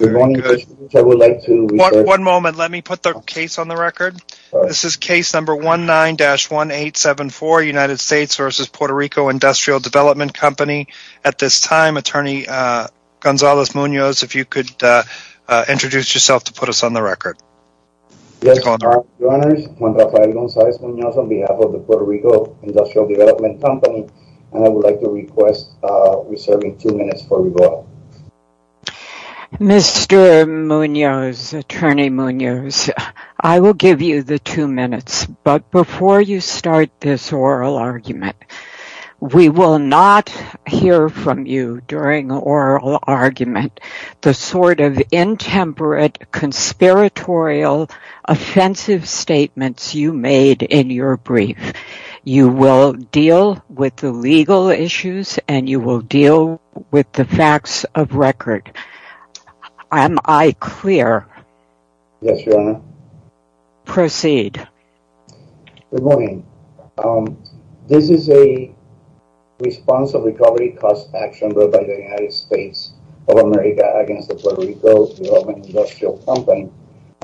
On behalf of the Puerto Rico Industrial Development Company, I would like to request reserving Mr. Munoz, Attorney Munoz, I will give you the two minutes, but before you start this oral argument, we will not hear from you during oral argument the sort of intemperate, conspiratorial, offensive statements you made in your brief. You will deal with the legal issues and you will deal with the facts of record. Am I clear? Yes, Your Honor. Proceed. Good morning. This is a response of recovery cost action brought by the United States of America against the Puerto Rico's Development Industrial Company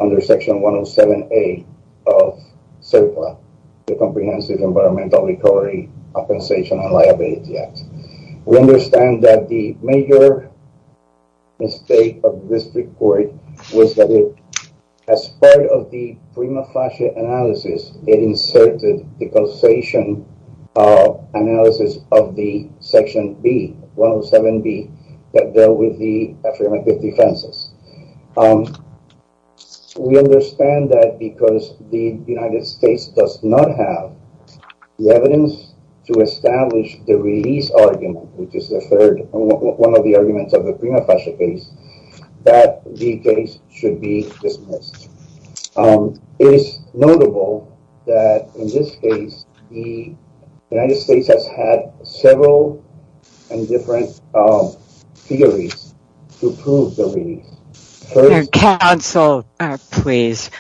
under Section 107A of CERPA. The Comprehensive Environmental Recovery Compensation and Liability Act. We understand that the major mistake of this report was that as part of the prima facie analysis, it inserted the causation analysis of the Section B, 107B, that dealt with the affirmative defenses. We understand that because the United States does not have the evidence to establish the release argument, which is the third, one of the arguments of the prima facie case, that the case should be dismissed. It is notable that in this case, the United States has had several and different theories to prove the release. Counsel, please.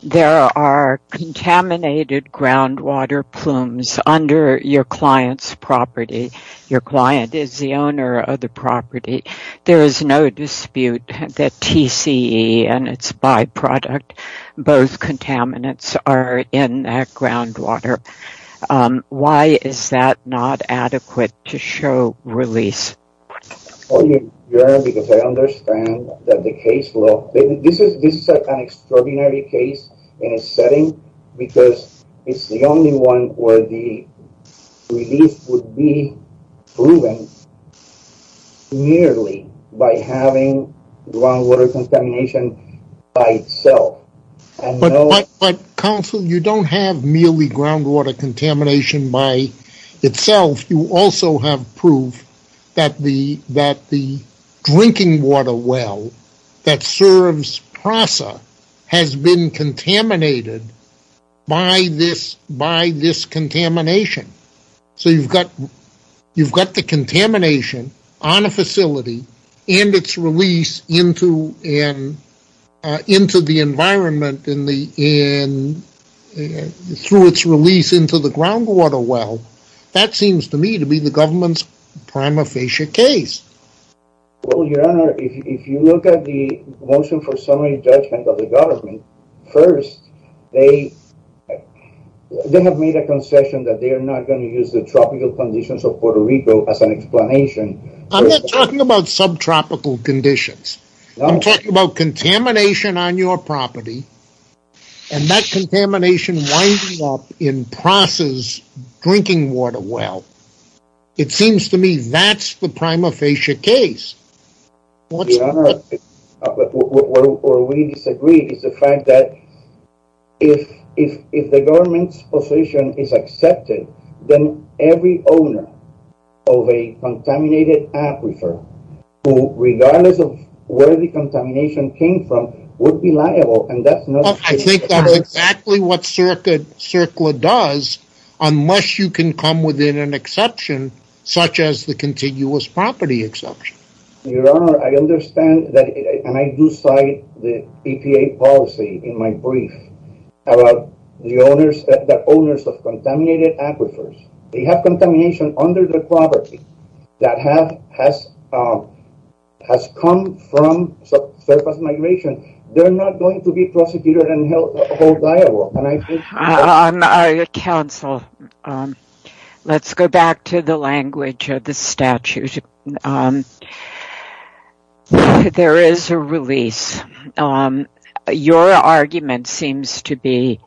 There are contaminated groundwater plumes under your client's property. Your client is the owner of the property. There is no dispute that TCE and its byproduct, both contaminants, are in that groundwater. Why is that not adequate to show release? Your Honor, because I understand that the case law, this is an extraordinary case in a setting because it's the only one where the release would be proven merely by having groundwater contamination by itself. But, Counsel, you don't have merely groundwater contamination by itself. You also have proof that the drinking water well that serves PRASA has been contaminated by this contamination. So, you've got the contamination on a facility and its release into the environment through its release into the groundwater well. That seems to me to be the government's prima facie case. Well, Your Honor, if you look at the motion for summary judgment of the government, first, they have made a concession that they are not going to use the tropical conditions of Puerto Rico as an explanation. I'm not talking about subtropical conditions. I'm talking about contamination on your property and that contamination winds up in PRASA's drinking water well. It seems to me that's the prima facie case. Your Honor, what we disagree is the fact that if the government's position is accepted, then every owner of a contaminated aquifer, regardless of where the contamination came from, would be liable. I think that's exactly what CERCLA does, unless you can come within an exception, such as the continuous property exception. Your Honor, I understand and I do cite the EPA policy in my brief about the owners of contaminated aquifers. They have contamination under the property that has come from CERCLA's migration. They're not going to be prosecuted and held liable. Counsel, let's go back to the language of the statute. There is a release. Your argument seems to be,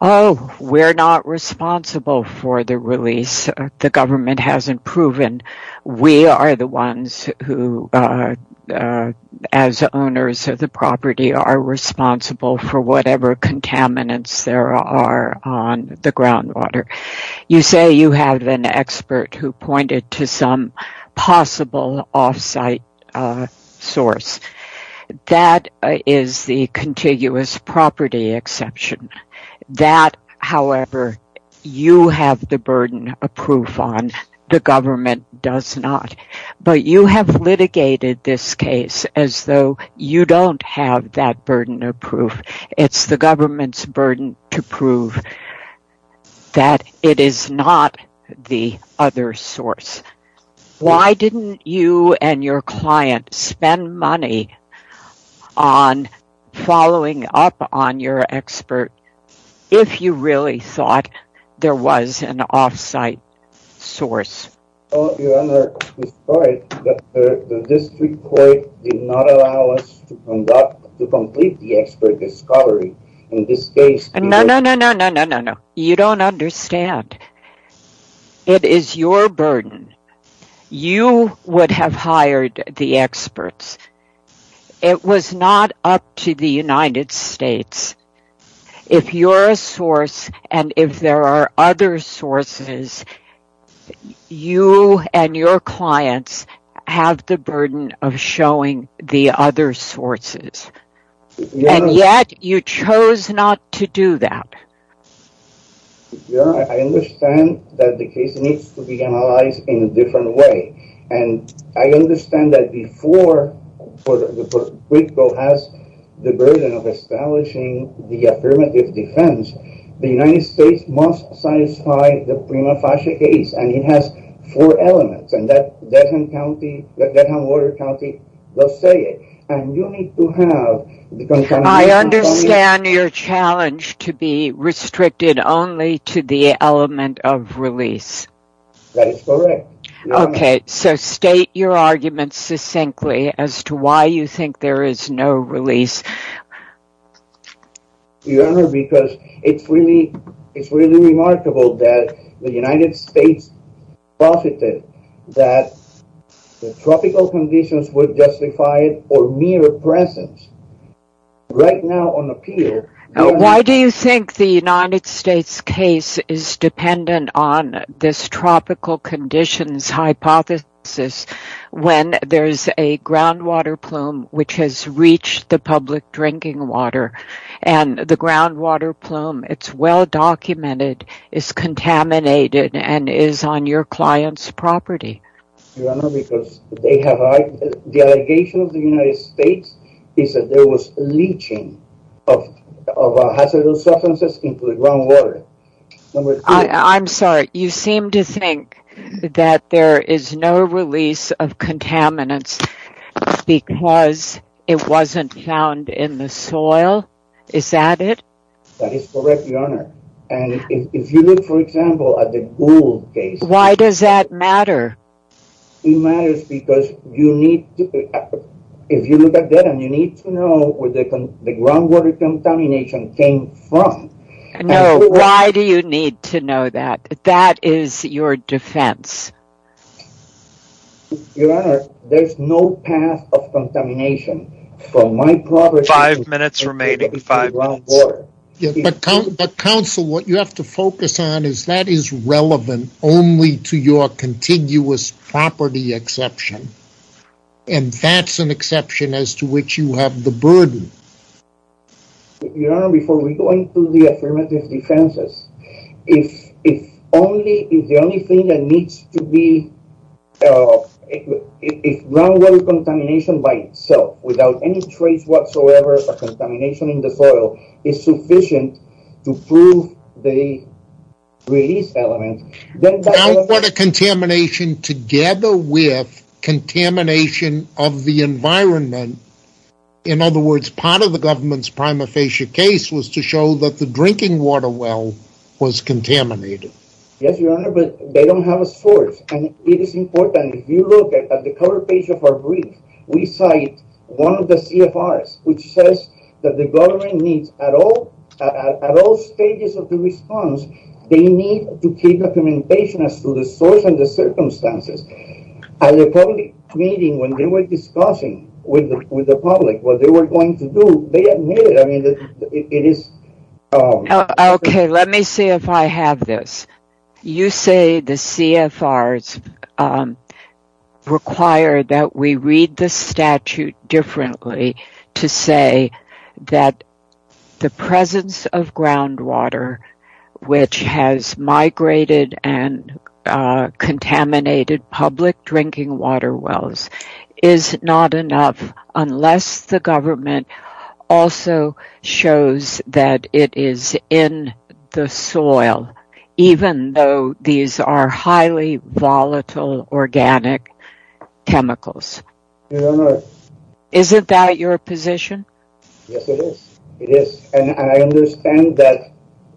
oh, we're not responsible for the release. The government hasn't proven. We are the ones who, as owners of the property, are responsible for whatever contaminants there are on the groundwater. You say you have an expert who pointed to some possible off-site source. That is the contiguous property exception. That, however, you have the burden of proof on. The government does not. But you have litigated this case as though you don't have that burden of proof. It's the government's burden to prove that it is not the other source. Why didn't you and your client spend money on following up on your expert if you really thought there was an off-site source? Your Honor, despite that the district court did not allow us to complete the expert discovery, in this case... ...you and your clients have the burden of showing the other sources. And yet, you chose not to do that. Your Honor, I understand that the case needs to be analyzed in a different way. And I understand that before the district court has the burden of establishing the affirmative defense, the United States must satisfy the prima facie case. And it has four elements. I understand your challenge to be restricted only to the element of release. That is correct. Okay, so state your argument succinctly as to why you think there is no release. Your Honor, because it's really remarkable that the United States posited that the tropical conditions would justify it or mere presence. Right now on the pier... ...and the groundwater plume, it's well documented, it's contaminated and is on your client's property. Your Honor, because the allegation of the United States is that there was leaching of hazardous substances into the groundwater. I'm sorry, you seem to think that there is no release of contaminants because it wasn't found in the soil. Is that it? That is correct, Your Honor. And if you look, for example, at the Gould case... Why does that matter? It matters because you need to know where the groundwater contamination came from. No, why do you need to know that? That is your defense. Your Honor, there is no path of contamination from my property to the groundwater. But counsel, what you have to focus on is that is relevant only to your continuous property exception. And that's an exception as to which you have the burden. Your Honor, before we go into the affirmative defenses, if only, if the only thing that needs to be... If groundwater contamination by itself, without any trace whatsoever of contamination in the soil, is sufficient to prove the release element... Groundwater contamination together with contamination of the environment... In other words, part of the government's prima facie case was to show that the drinking water well was contaminated. Yes, Your Honor, but they don't have a source. And it is important, if you look at the cover page of our brief, we cite one of the CFRs, which says that the government needs, at all stages of the response, they need to keep documentation as to the source and the circumstances. At the public meeting, when they were discussing with the public what they were going to do, they admitted, I mean, it is... Okay, let me see if I have this. You say the CFRs require that we read the statute differently to say that the presence of groundwater, which has migrated and contaminated public drinking water wells, is not enough, unless the government also shows that it is in the soil. Even though these are highly volatile organic chemicals. Your Honor... Isn't that your position? Yes, it is. It is. And I understand that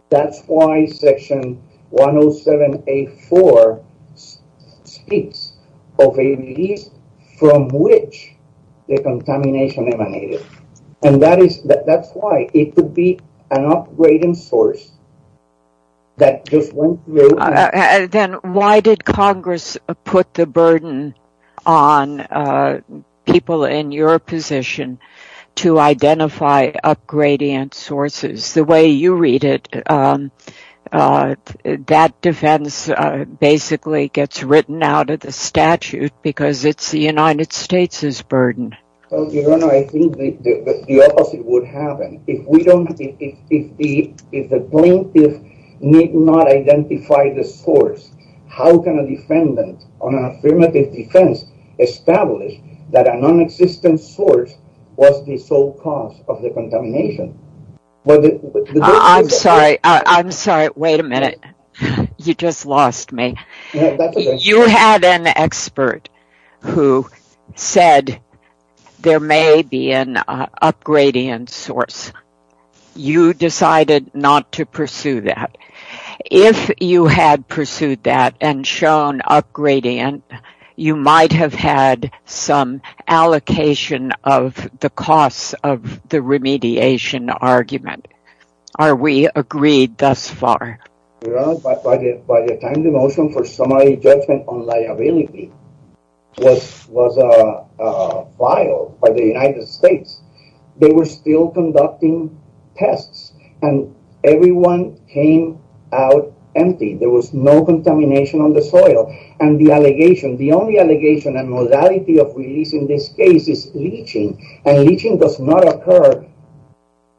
that's why Section 107A4 speaks of a release from which the contamination emanated. And that's why it could be an up-gradient source that just went through... Then why did Congress put the burden on people in your position to identify up-gradient sources? The way you read it, that defense basically gets written out of the statute because it's the United States' burden. Your Honor, I think the opposite would happen. If the plaintiff need not identify the source, how can a defendant on an affirmative defense establish that a non-existent source was the sole cause of the contamination? I'm sorry. I'm sorry. Wait a minute. You just lost me. You had an expert who said there may be an up-gradient source. You decided not to pursue that. If you had pursued that and shown up-gradient, you might have had some allocation of the costs of the remediation argument. Are we agreed thus far? Your Honor, by the time the motion for summary judgment on liability was filed by the United States, they were still conducting tests, and everyone came out empty. There was no contamination on the soil. And the allegation, the only allegation and modality of release in this case is leaching, and leaching does not occur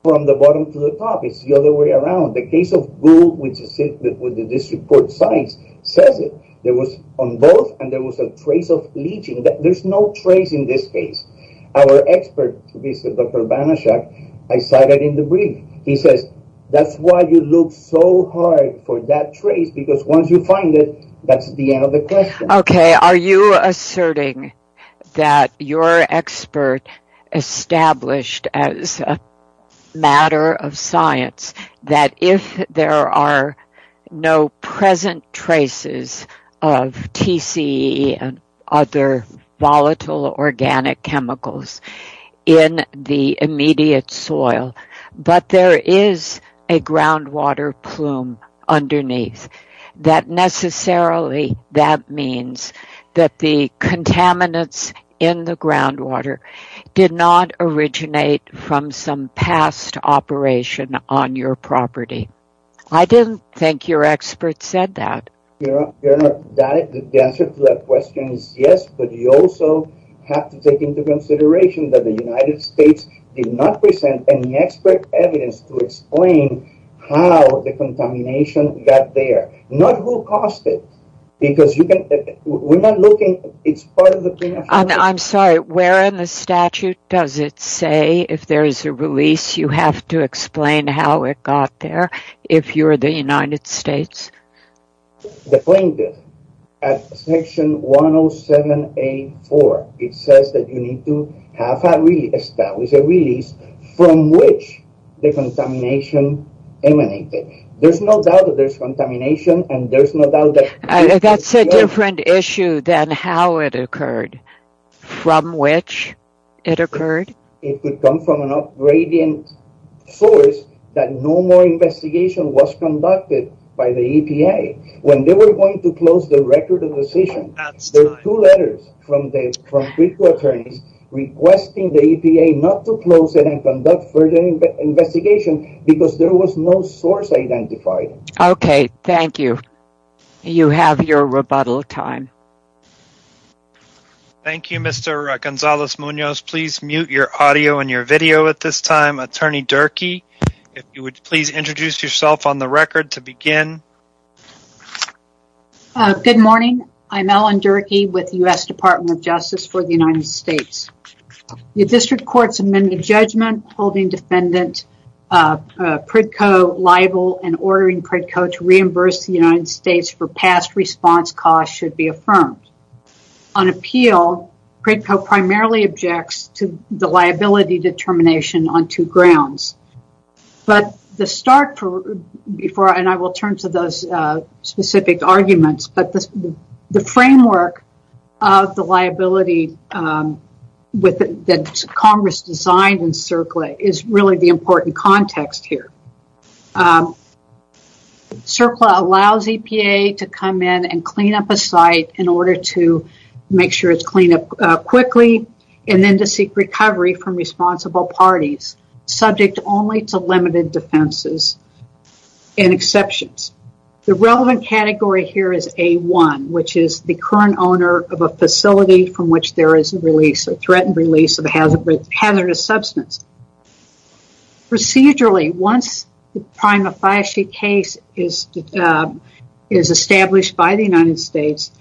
from the bottom to the top. It's the other way around. The case of Gould with the district court science says it. There was on both, and there was a trace of leaching. There's no trace in this case. Our expert, Dr. Banaschak, I cited in the brief. He says, that's why you look so hard for that trace, because once you find it, that's the end of the question. Okay, are you asserting that your expert established as a matter of science that if there are no present traces of TCE and other volatile organic chemicals in the immediate soil, but there is a groundwater plume underneath, that necessarily that means that the contaminants in the groundwater did not originate from some past operation on your property? I didn't think your expert said that. The answer to that question is yes, but you also have to take into consideration that the United States did not present any expert evidence to explain how the contamination got there. Not who caused it, because we're not looking, it's part of the thing. I'm sorry, where in the statute does it say if there is a release, you have to explain how it got there, if you're the United States? The plaintiff, at section 107A4, it says that you need to have a release, establish a release from which the contamination emanated. There's no doubt that there's contamination, and there's no doubt that... That's a different issue than how it occurred, from which it occurred? It could come from an up-gradient source that no more investigation was conducted by the EPA. When they were going to close the record of decision, there were two letters from critical attorneys requesting the EPA not to close it and conduct further investigation, because there was no source identified. Okay, thank you. You have your rebuttal time. Thank you, Mr. Gonzales-Munoz. Please mute your audio and your video at this time. Attorney Durkee, if you would please introduce yourself on the record to begin. Good morning, I'm Ellen Durkee with the U.S. Department of Justice for the United States. The district court's amendment judgment holding defendant Pritko liable and ordering Pritko to reimburse the United States for past response costs should be affirmed. On appeal, Pritko primarily objects to the liability determination on two grounds. The framework of the liability that Congress designed in CERCLA is really the important context here. CERCLA allows EPA to come in and clean up a site in order to make sure it's cleaned up quickly, and then to seek recovery from responsible parties. Subject only to limited defenses and exceptions. The relevant category here is A1, which is the current owner of a facility from which there is a threat and release of a hazardous substance. Procedurally, once the prima facie case is established by the United States,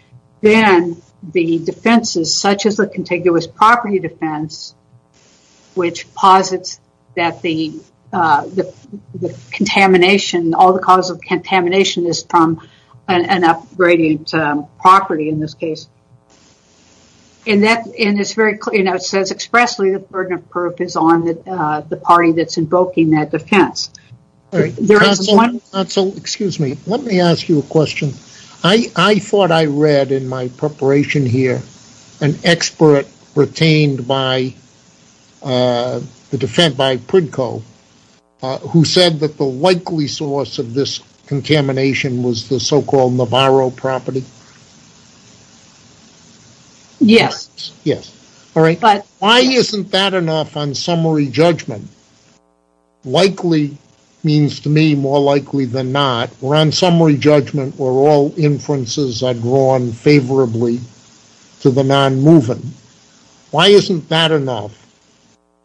then the defenses, such as the contiguous property defense, which posits that all the cause of contamination is from an upgrading property in this case. It says expressly that the burden of proof is on the party that's invoking that defense. Excuse me, let me ask you a question. I thought I read in my preparation here an expert retained by the defense, by Pritko, who said that the likely source of this contamination was the so-called Navarro property. Yes. Why isn't that enough on summary judgment? Likely means to me more likely than not. We're on summary judgment where all inferences are drawn favorably to the non-moving. Why isn't that enough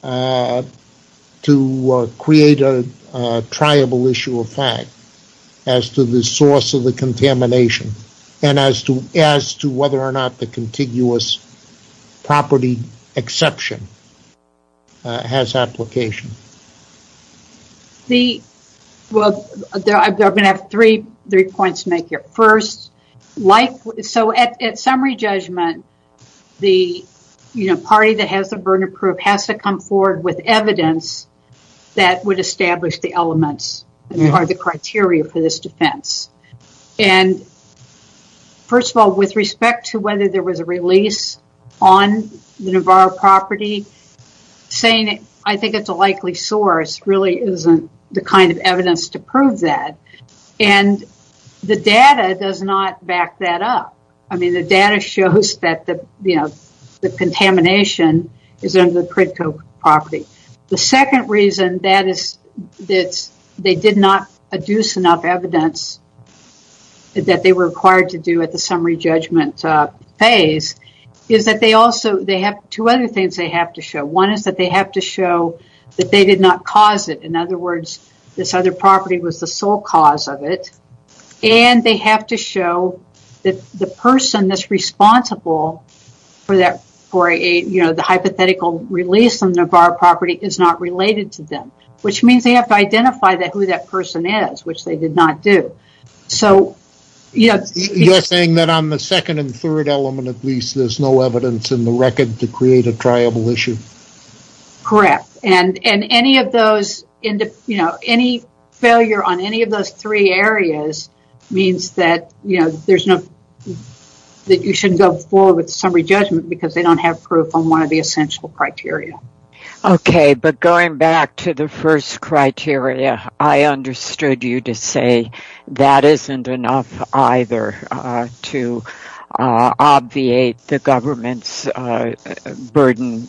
to create a triable issue of fact as to the source of the contamination and as to whether or not the contiguous property exception has application? Well, I'm going to have three points to make here. At summary judgment, the party that has the burden of proof has to come forward with evidence that would establish the elements or the criteria for this defense. First of all, with respect to whether there was a release on the Navarro property, saying I think it's a likely source really isn't the kind of evidence to prove that. The data does not back that up. The data shows that the contamination is under the Pritko property. The second reason that they did not adduce enough evidence that they were required to do at the summary judgment phase is that they have two other things they have to show. One is that they have to show that they did not cause it. In other words, this other property was the sole cause of it. And they have to show that the person that's responsible for the hypothetical release on Navarro property is not related to them. Which means they have to identify who that person is, which they did not do. You're saying that on the second and third element at least there's no evidence in the record to create a triable issue? Correct. Any failure on any of those three areas means that you shouldn't go forward with the summary judgment because they don't have proof on one of the essential criteria. Okay, but going back to the first criteria, I understood you to say that isn't enough either to obviate the government's burden,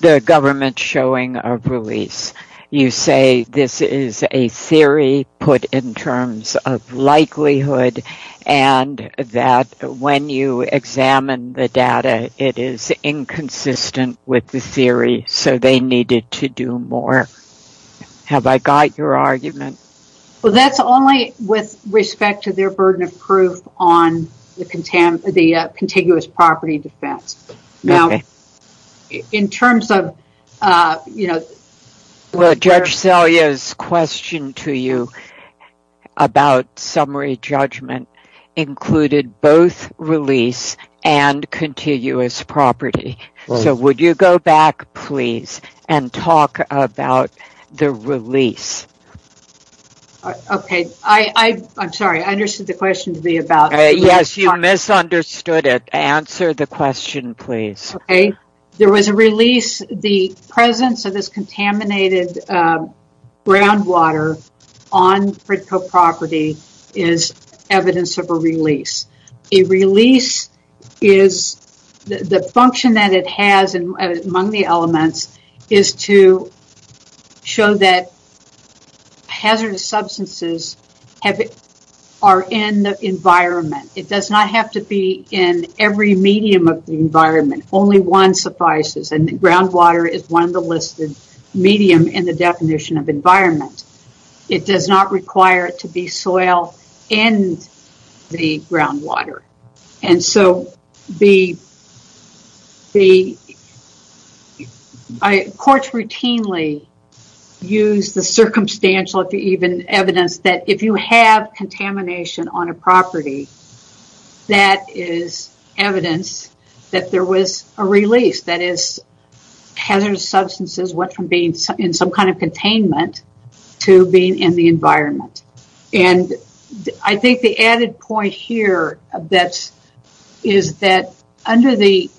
the government's showing of release. You say this is a theory put in terms of likelihood and that when you examine the data it is inconsistent with the theory so they needed to do more. Have I got your argument? Well, that's only with respect to their burden of proof on the contiguous property defense. Okay. Now, in terms of, you know... Judge Selye's question to you about summary judgment included both release and contiguous property. So, would you go back please and talk about the release? Okay, I'm sorry, I understood the question to be about... Yes, you misunderstood it. Answer the question please. Okay, there was a release, the presence of this contaminated groundwater on Fritco property is evidence of a release. A release is, the function that it has among the elements is to show that hazardous substances are in the environment. It does not have to be in every medium of the environment, only one suffices and groundwater is one of the listed medium in the definition of environment. It does not require it to be soil and the groundwater. And so, courts routinely use the circumstantial evidence that if you have contamination on a property, that is evidence that there was a release. That is, hazardous substances went from being in some kind of containment to being in the environment. And I think the added point here is that under the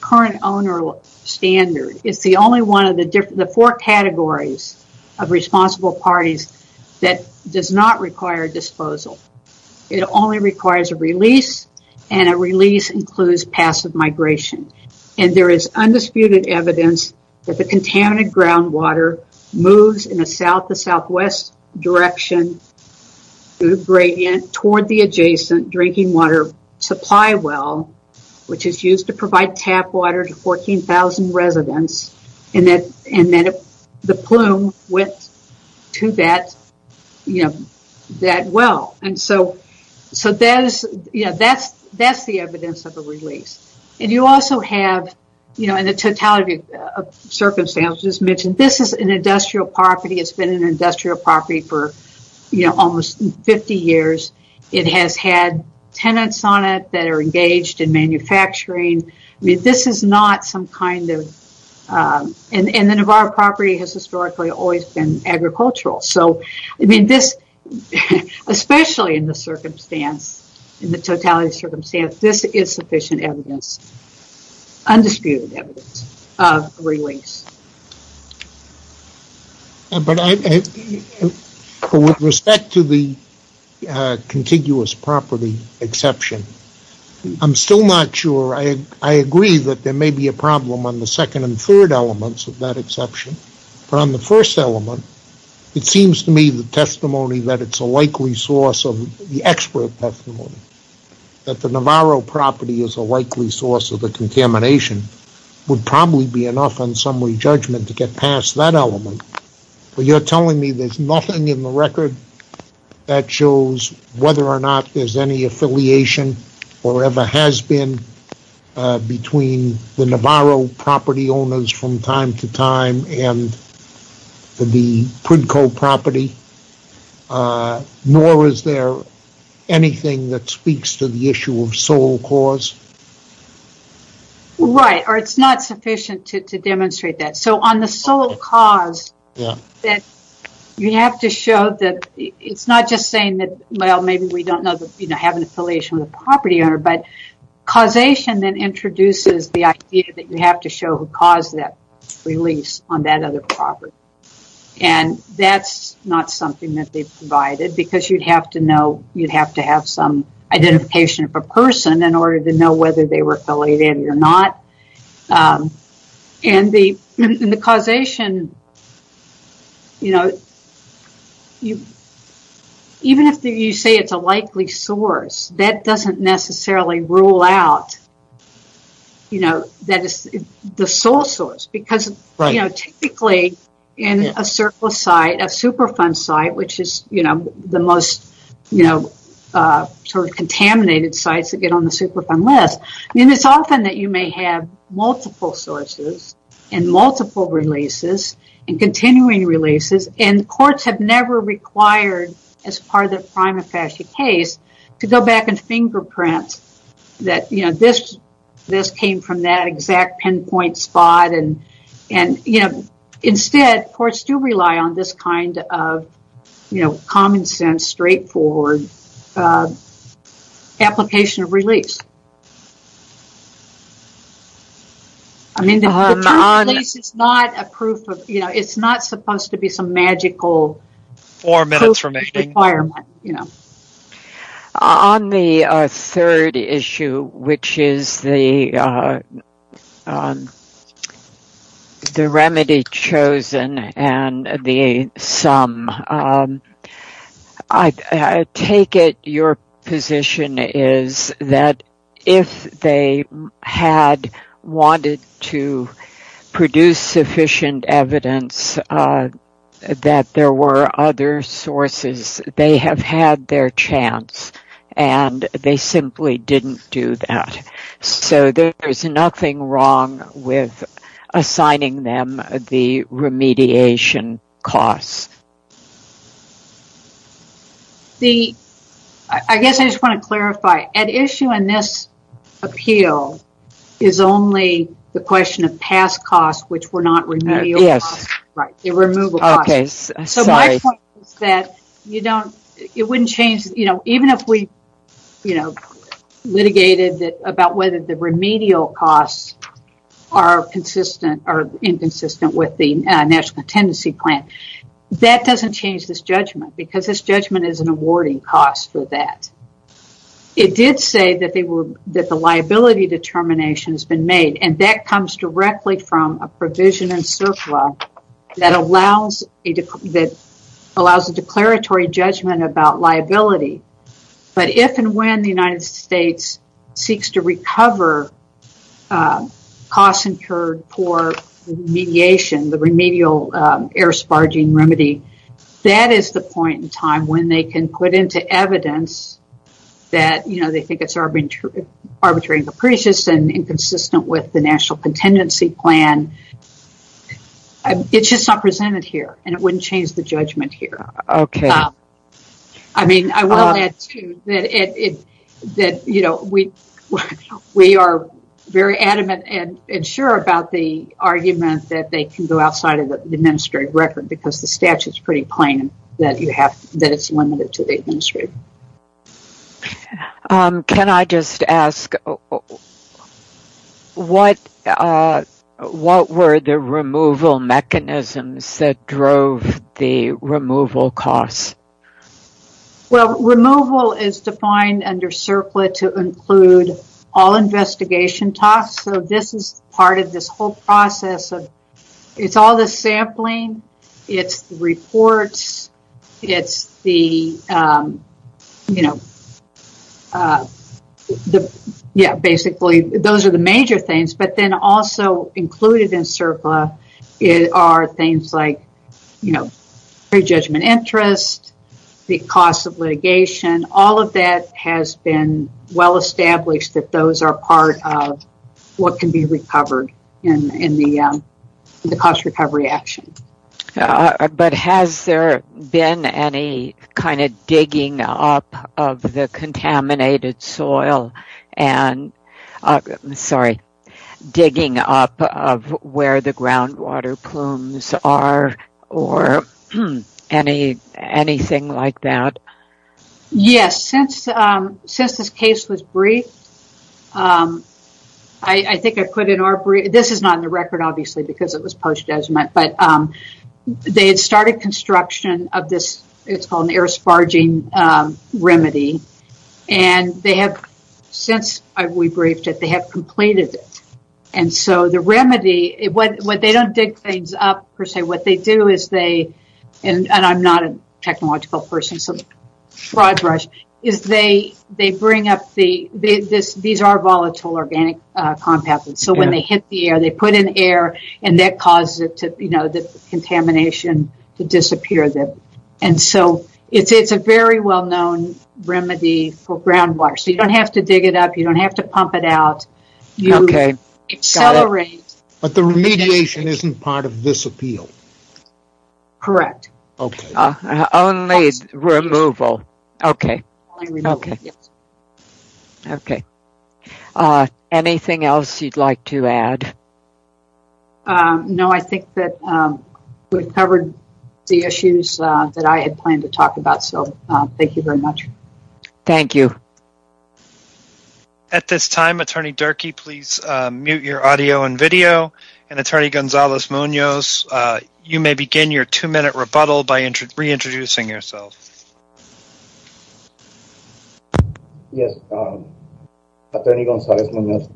current owner standard, it's the only one of the four categories of responsible parties that does not require disposal. It only requires a release and a release includes passive migration. And there is undisputed evidence that the contaminated groundwater moves in a south to southwest direction gradient toward the adjacent drinking water supply well, which is used to provide tap water to 14,000 residents and that the plume went to that well. And so, that's the evidence of a release. And you also have, in the totality of circumstances mentioned, this is an industrial property. It's been an industrial property for almost 50 years. It has had tenants on it that are engaged in manufacturing. This is not some kind of, and the Navarre property has historically always been agricultural. So, I mean this, especially in the circumstance, in the totality of circumstances, this is sufficient evidence, undisputed evidence of a release. But with respect to the contiguous property exception, I'm still not sure. I agree that there may be a problem on the second and third elements of that exception. But on the first element, it seems to me the testimony that it's a likely source of the expert testimony. That the Navarre property is a likely source of the contamination would probably be enough on summary judgment to get past that element. But you're telling me there's nothing in the record that shows whether or not there's any affiliation or ever has been between the Navarre property owners from time to time and the Prudco property? Nor is there anything that speaks to the issue of sole cause? Right, or it's not sufficient to demonstrate that. So, on the sole cause, you have to show that it's not just saying that, well, maybe we don't have an affiliation with a property owner. But causation then introduces the idea that you have to show who caused that release on that other property. And that's not something that they've provided because you'd have to have some identification of a person in order to know whether they were affiliated or not. Even if you say it's a likely source, that doesn't necessarily rule out the sole source. Because, you know, typically in a surplus site, a Superfund site, which is, you know, the most, you know, sort of contaminated sites that get on the Superfund list. I mean, it's often that you may have multiple sources and multiple releases and continuing releases. And courts have never required, as part of the prima facie case, to go back and fingerprint that, you know, this came from that exact pinpoint spot. And, you know, instead, courts do rely on this kind of, you know, common sense, straightforward application of release. I mean, the term release is not a proof of, you know, it's not supposed to be some magical requirement, you know. On the third issue, which is the remedy chosen and the sum, I take it your position is that if they had wanted to produce sufficient evidence that there were other sources, they have had their chance and they simply didn't do that. So, there's nothing wrong with assigning them the remediation costs. I guess I just want to clarify. At issue in this appeal is only the question of past costs, which were not remedial costs. Yes. Right, the removal costs. Okay, sorry. So, my point is that you don't, it wouldn't change, you know, even if we, you know, litigated about whether the remedial costs are consistent or inconsistent with the National Tendency Plan, that doesn't change this judgment because this judgment is an awarding cost for that. It did say that they were, that the liability determination has been made and that comes directly from a provision in CERFLA that allows a declaratory judgment about liability. But if and when the United States seeks to recover costs incurred for remediation, the remedial air sparging remedy, that is the point in time when they can put into evidence that, you know, they think it's arbitrary and capricious and inconsistent with the National Tendency Plan. It's just not presented here and it wouldn't change the judgment here. Okay. I mean, I will add, too, that it, that, you know, we are very adamant and sure about the argument that they can go outside of the administrative record because the statute is pretty plain that you have, that it's limited to the administrative. Can I just ask, what, what were the removal mechanisms that drove the removal costs? Well, removal is defined under CERFLA to include all investigation tasks. So, this is part of this whole process of, it's all the sampling, it's the reports, it's the, you know, the, yeah, basically those are the major things. But then also included in CERFLA are things like, you know, prejudgment interest, the cost of litigation, all of that has been well established that those are part of what can be recovered in the cost recovery action. But has there been any kind of digging up of the contaminated soil and, sorry, digging up of where the groundwater plumes are or any, anything like that? Yes. Since, since this case was briefed, I think I put in our brief, this is not in the record, obviously, because it was post judgment, but they had started construction of this, it's called an air sparging remedy. And they have, since we briefed it, they have completed it. And so, the remedy, what they don't dig things up per se, what they do is they, and I'm not a technological person, so broad brush, is they bring up the, these are volatile organic compounds. So, when they hit the air, they put in air and that causes it to, you know, the contamination to disappear. And so, it's a very well known remedy for groundwater. So, you don't have to dig it up. You don't have to pump it out. Okay. You accelerate. But the remediation isn't part of this appeal. Correct. Okay. Only removal. Okay. Okay. Yes. Okay. Anything else you'd like to add? No, I think that we've covered the issues that I had planned to talk about. So, thank you very much. Thank you. At this time, Attorney Durkee, please mute your audio and video. And, Attorney Gonzales-Munoz, you may begin your two-minute rebuttal by reintroducing yourself. Yes, Attorney Gonzales-Munoz.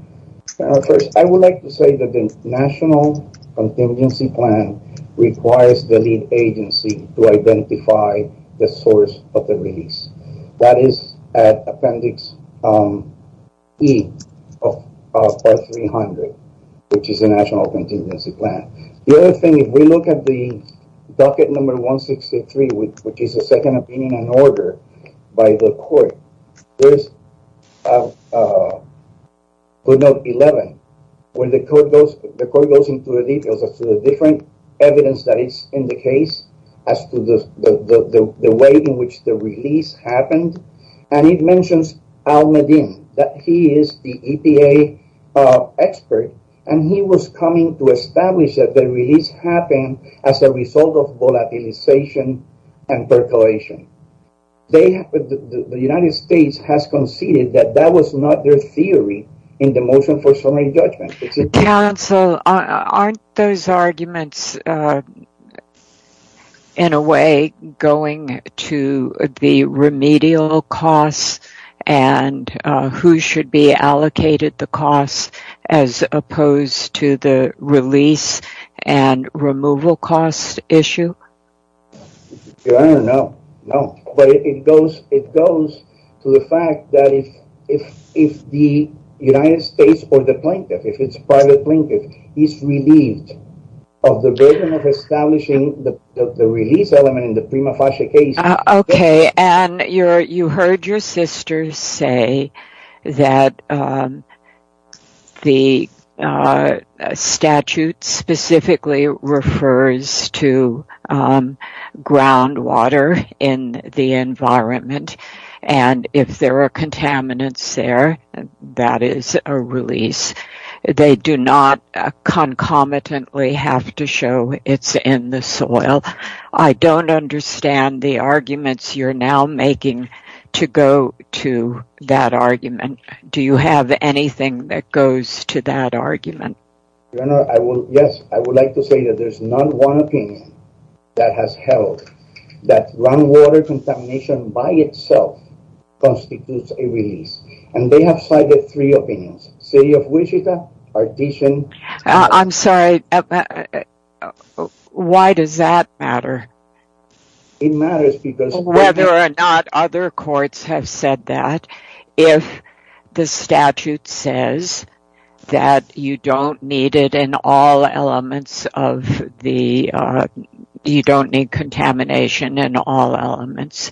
First, I would like to say that the National Contingency Plan requires the lead agency to identify the source of the release. That is Appendix E of Part 300, which is the National Contingency Plan. The other thing, if we look at the docket number 163, which is the second opinion and order by the court, there's 11, where the court goes into the details as to the different evidence that is in the case, as to the way in which the release happened. And it mentions Al Medin, that he is the EPA expert, and he was coming to establish that the release happened as a result of volatilization and percolation. The United States has conceded that that was not their theory in the motion for summary judgment. Counsel, aren't those arguments, in a way, going to the remedial costs and who should be allocated the costs, as opposed to the release and removal costs issue? I don't know. No, but it goes to the fact that if the United States or the plaintiff, if it's part of the plaintiff, is relieved of the burden of establishing the release element in the prima facie case... groundwater in the environment, and if there are contaminants there, that is a release. They do not concomitantly have to show it's in the soil. I don't understand the arguments you're now making to go to that argument. Do you have anything that goes to that argument? Your Honor, yes, I would like to say that there's not one opinion that has held that groundwater contamination by itself constitutes a release. And they have cited three opinions. City of Wichita, Partition... I'm sorry, why does that matter? Whether or not other courts have said that, if the statute says that you don't need it in all elements, you don't need contamination in all elements,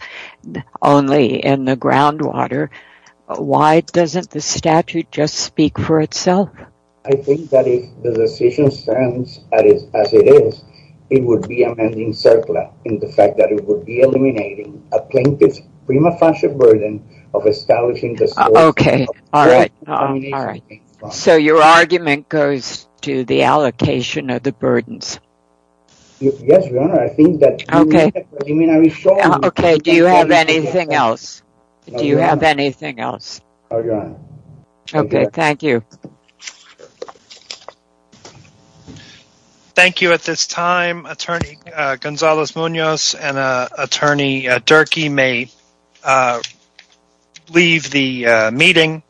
only in the groundwater, why doesn't the statute just speak for itself? I think that if the decision stands as it is, it would be amending CERCLA in the fact that it would be eliminating a plaintiff's prima facie burden of establishing the source of contamination. So your argument goes to the allocation of the burdens? Yes, Your Honor, I think that... Okay, do you have anything else? Do you have anything else? No, Your Honor. Okay, thank you. Thank you at this time. Attorney Gonzales-Munoz and Attorney Durkee may leave the meeting.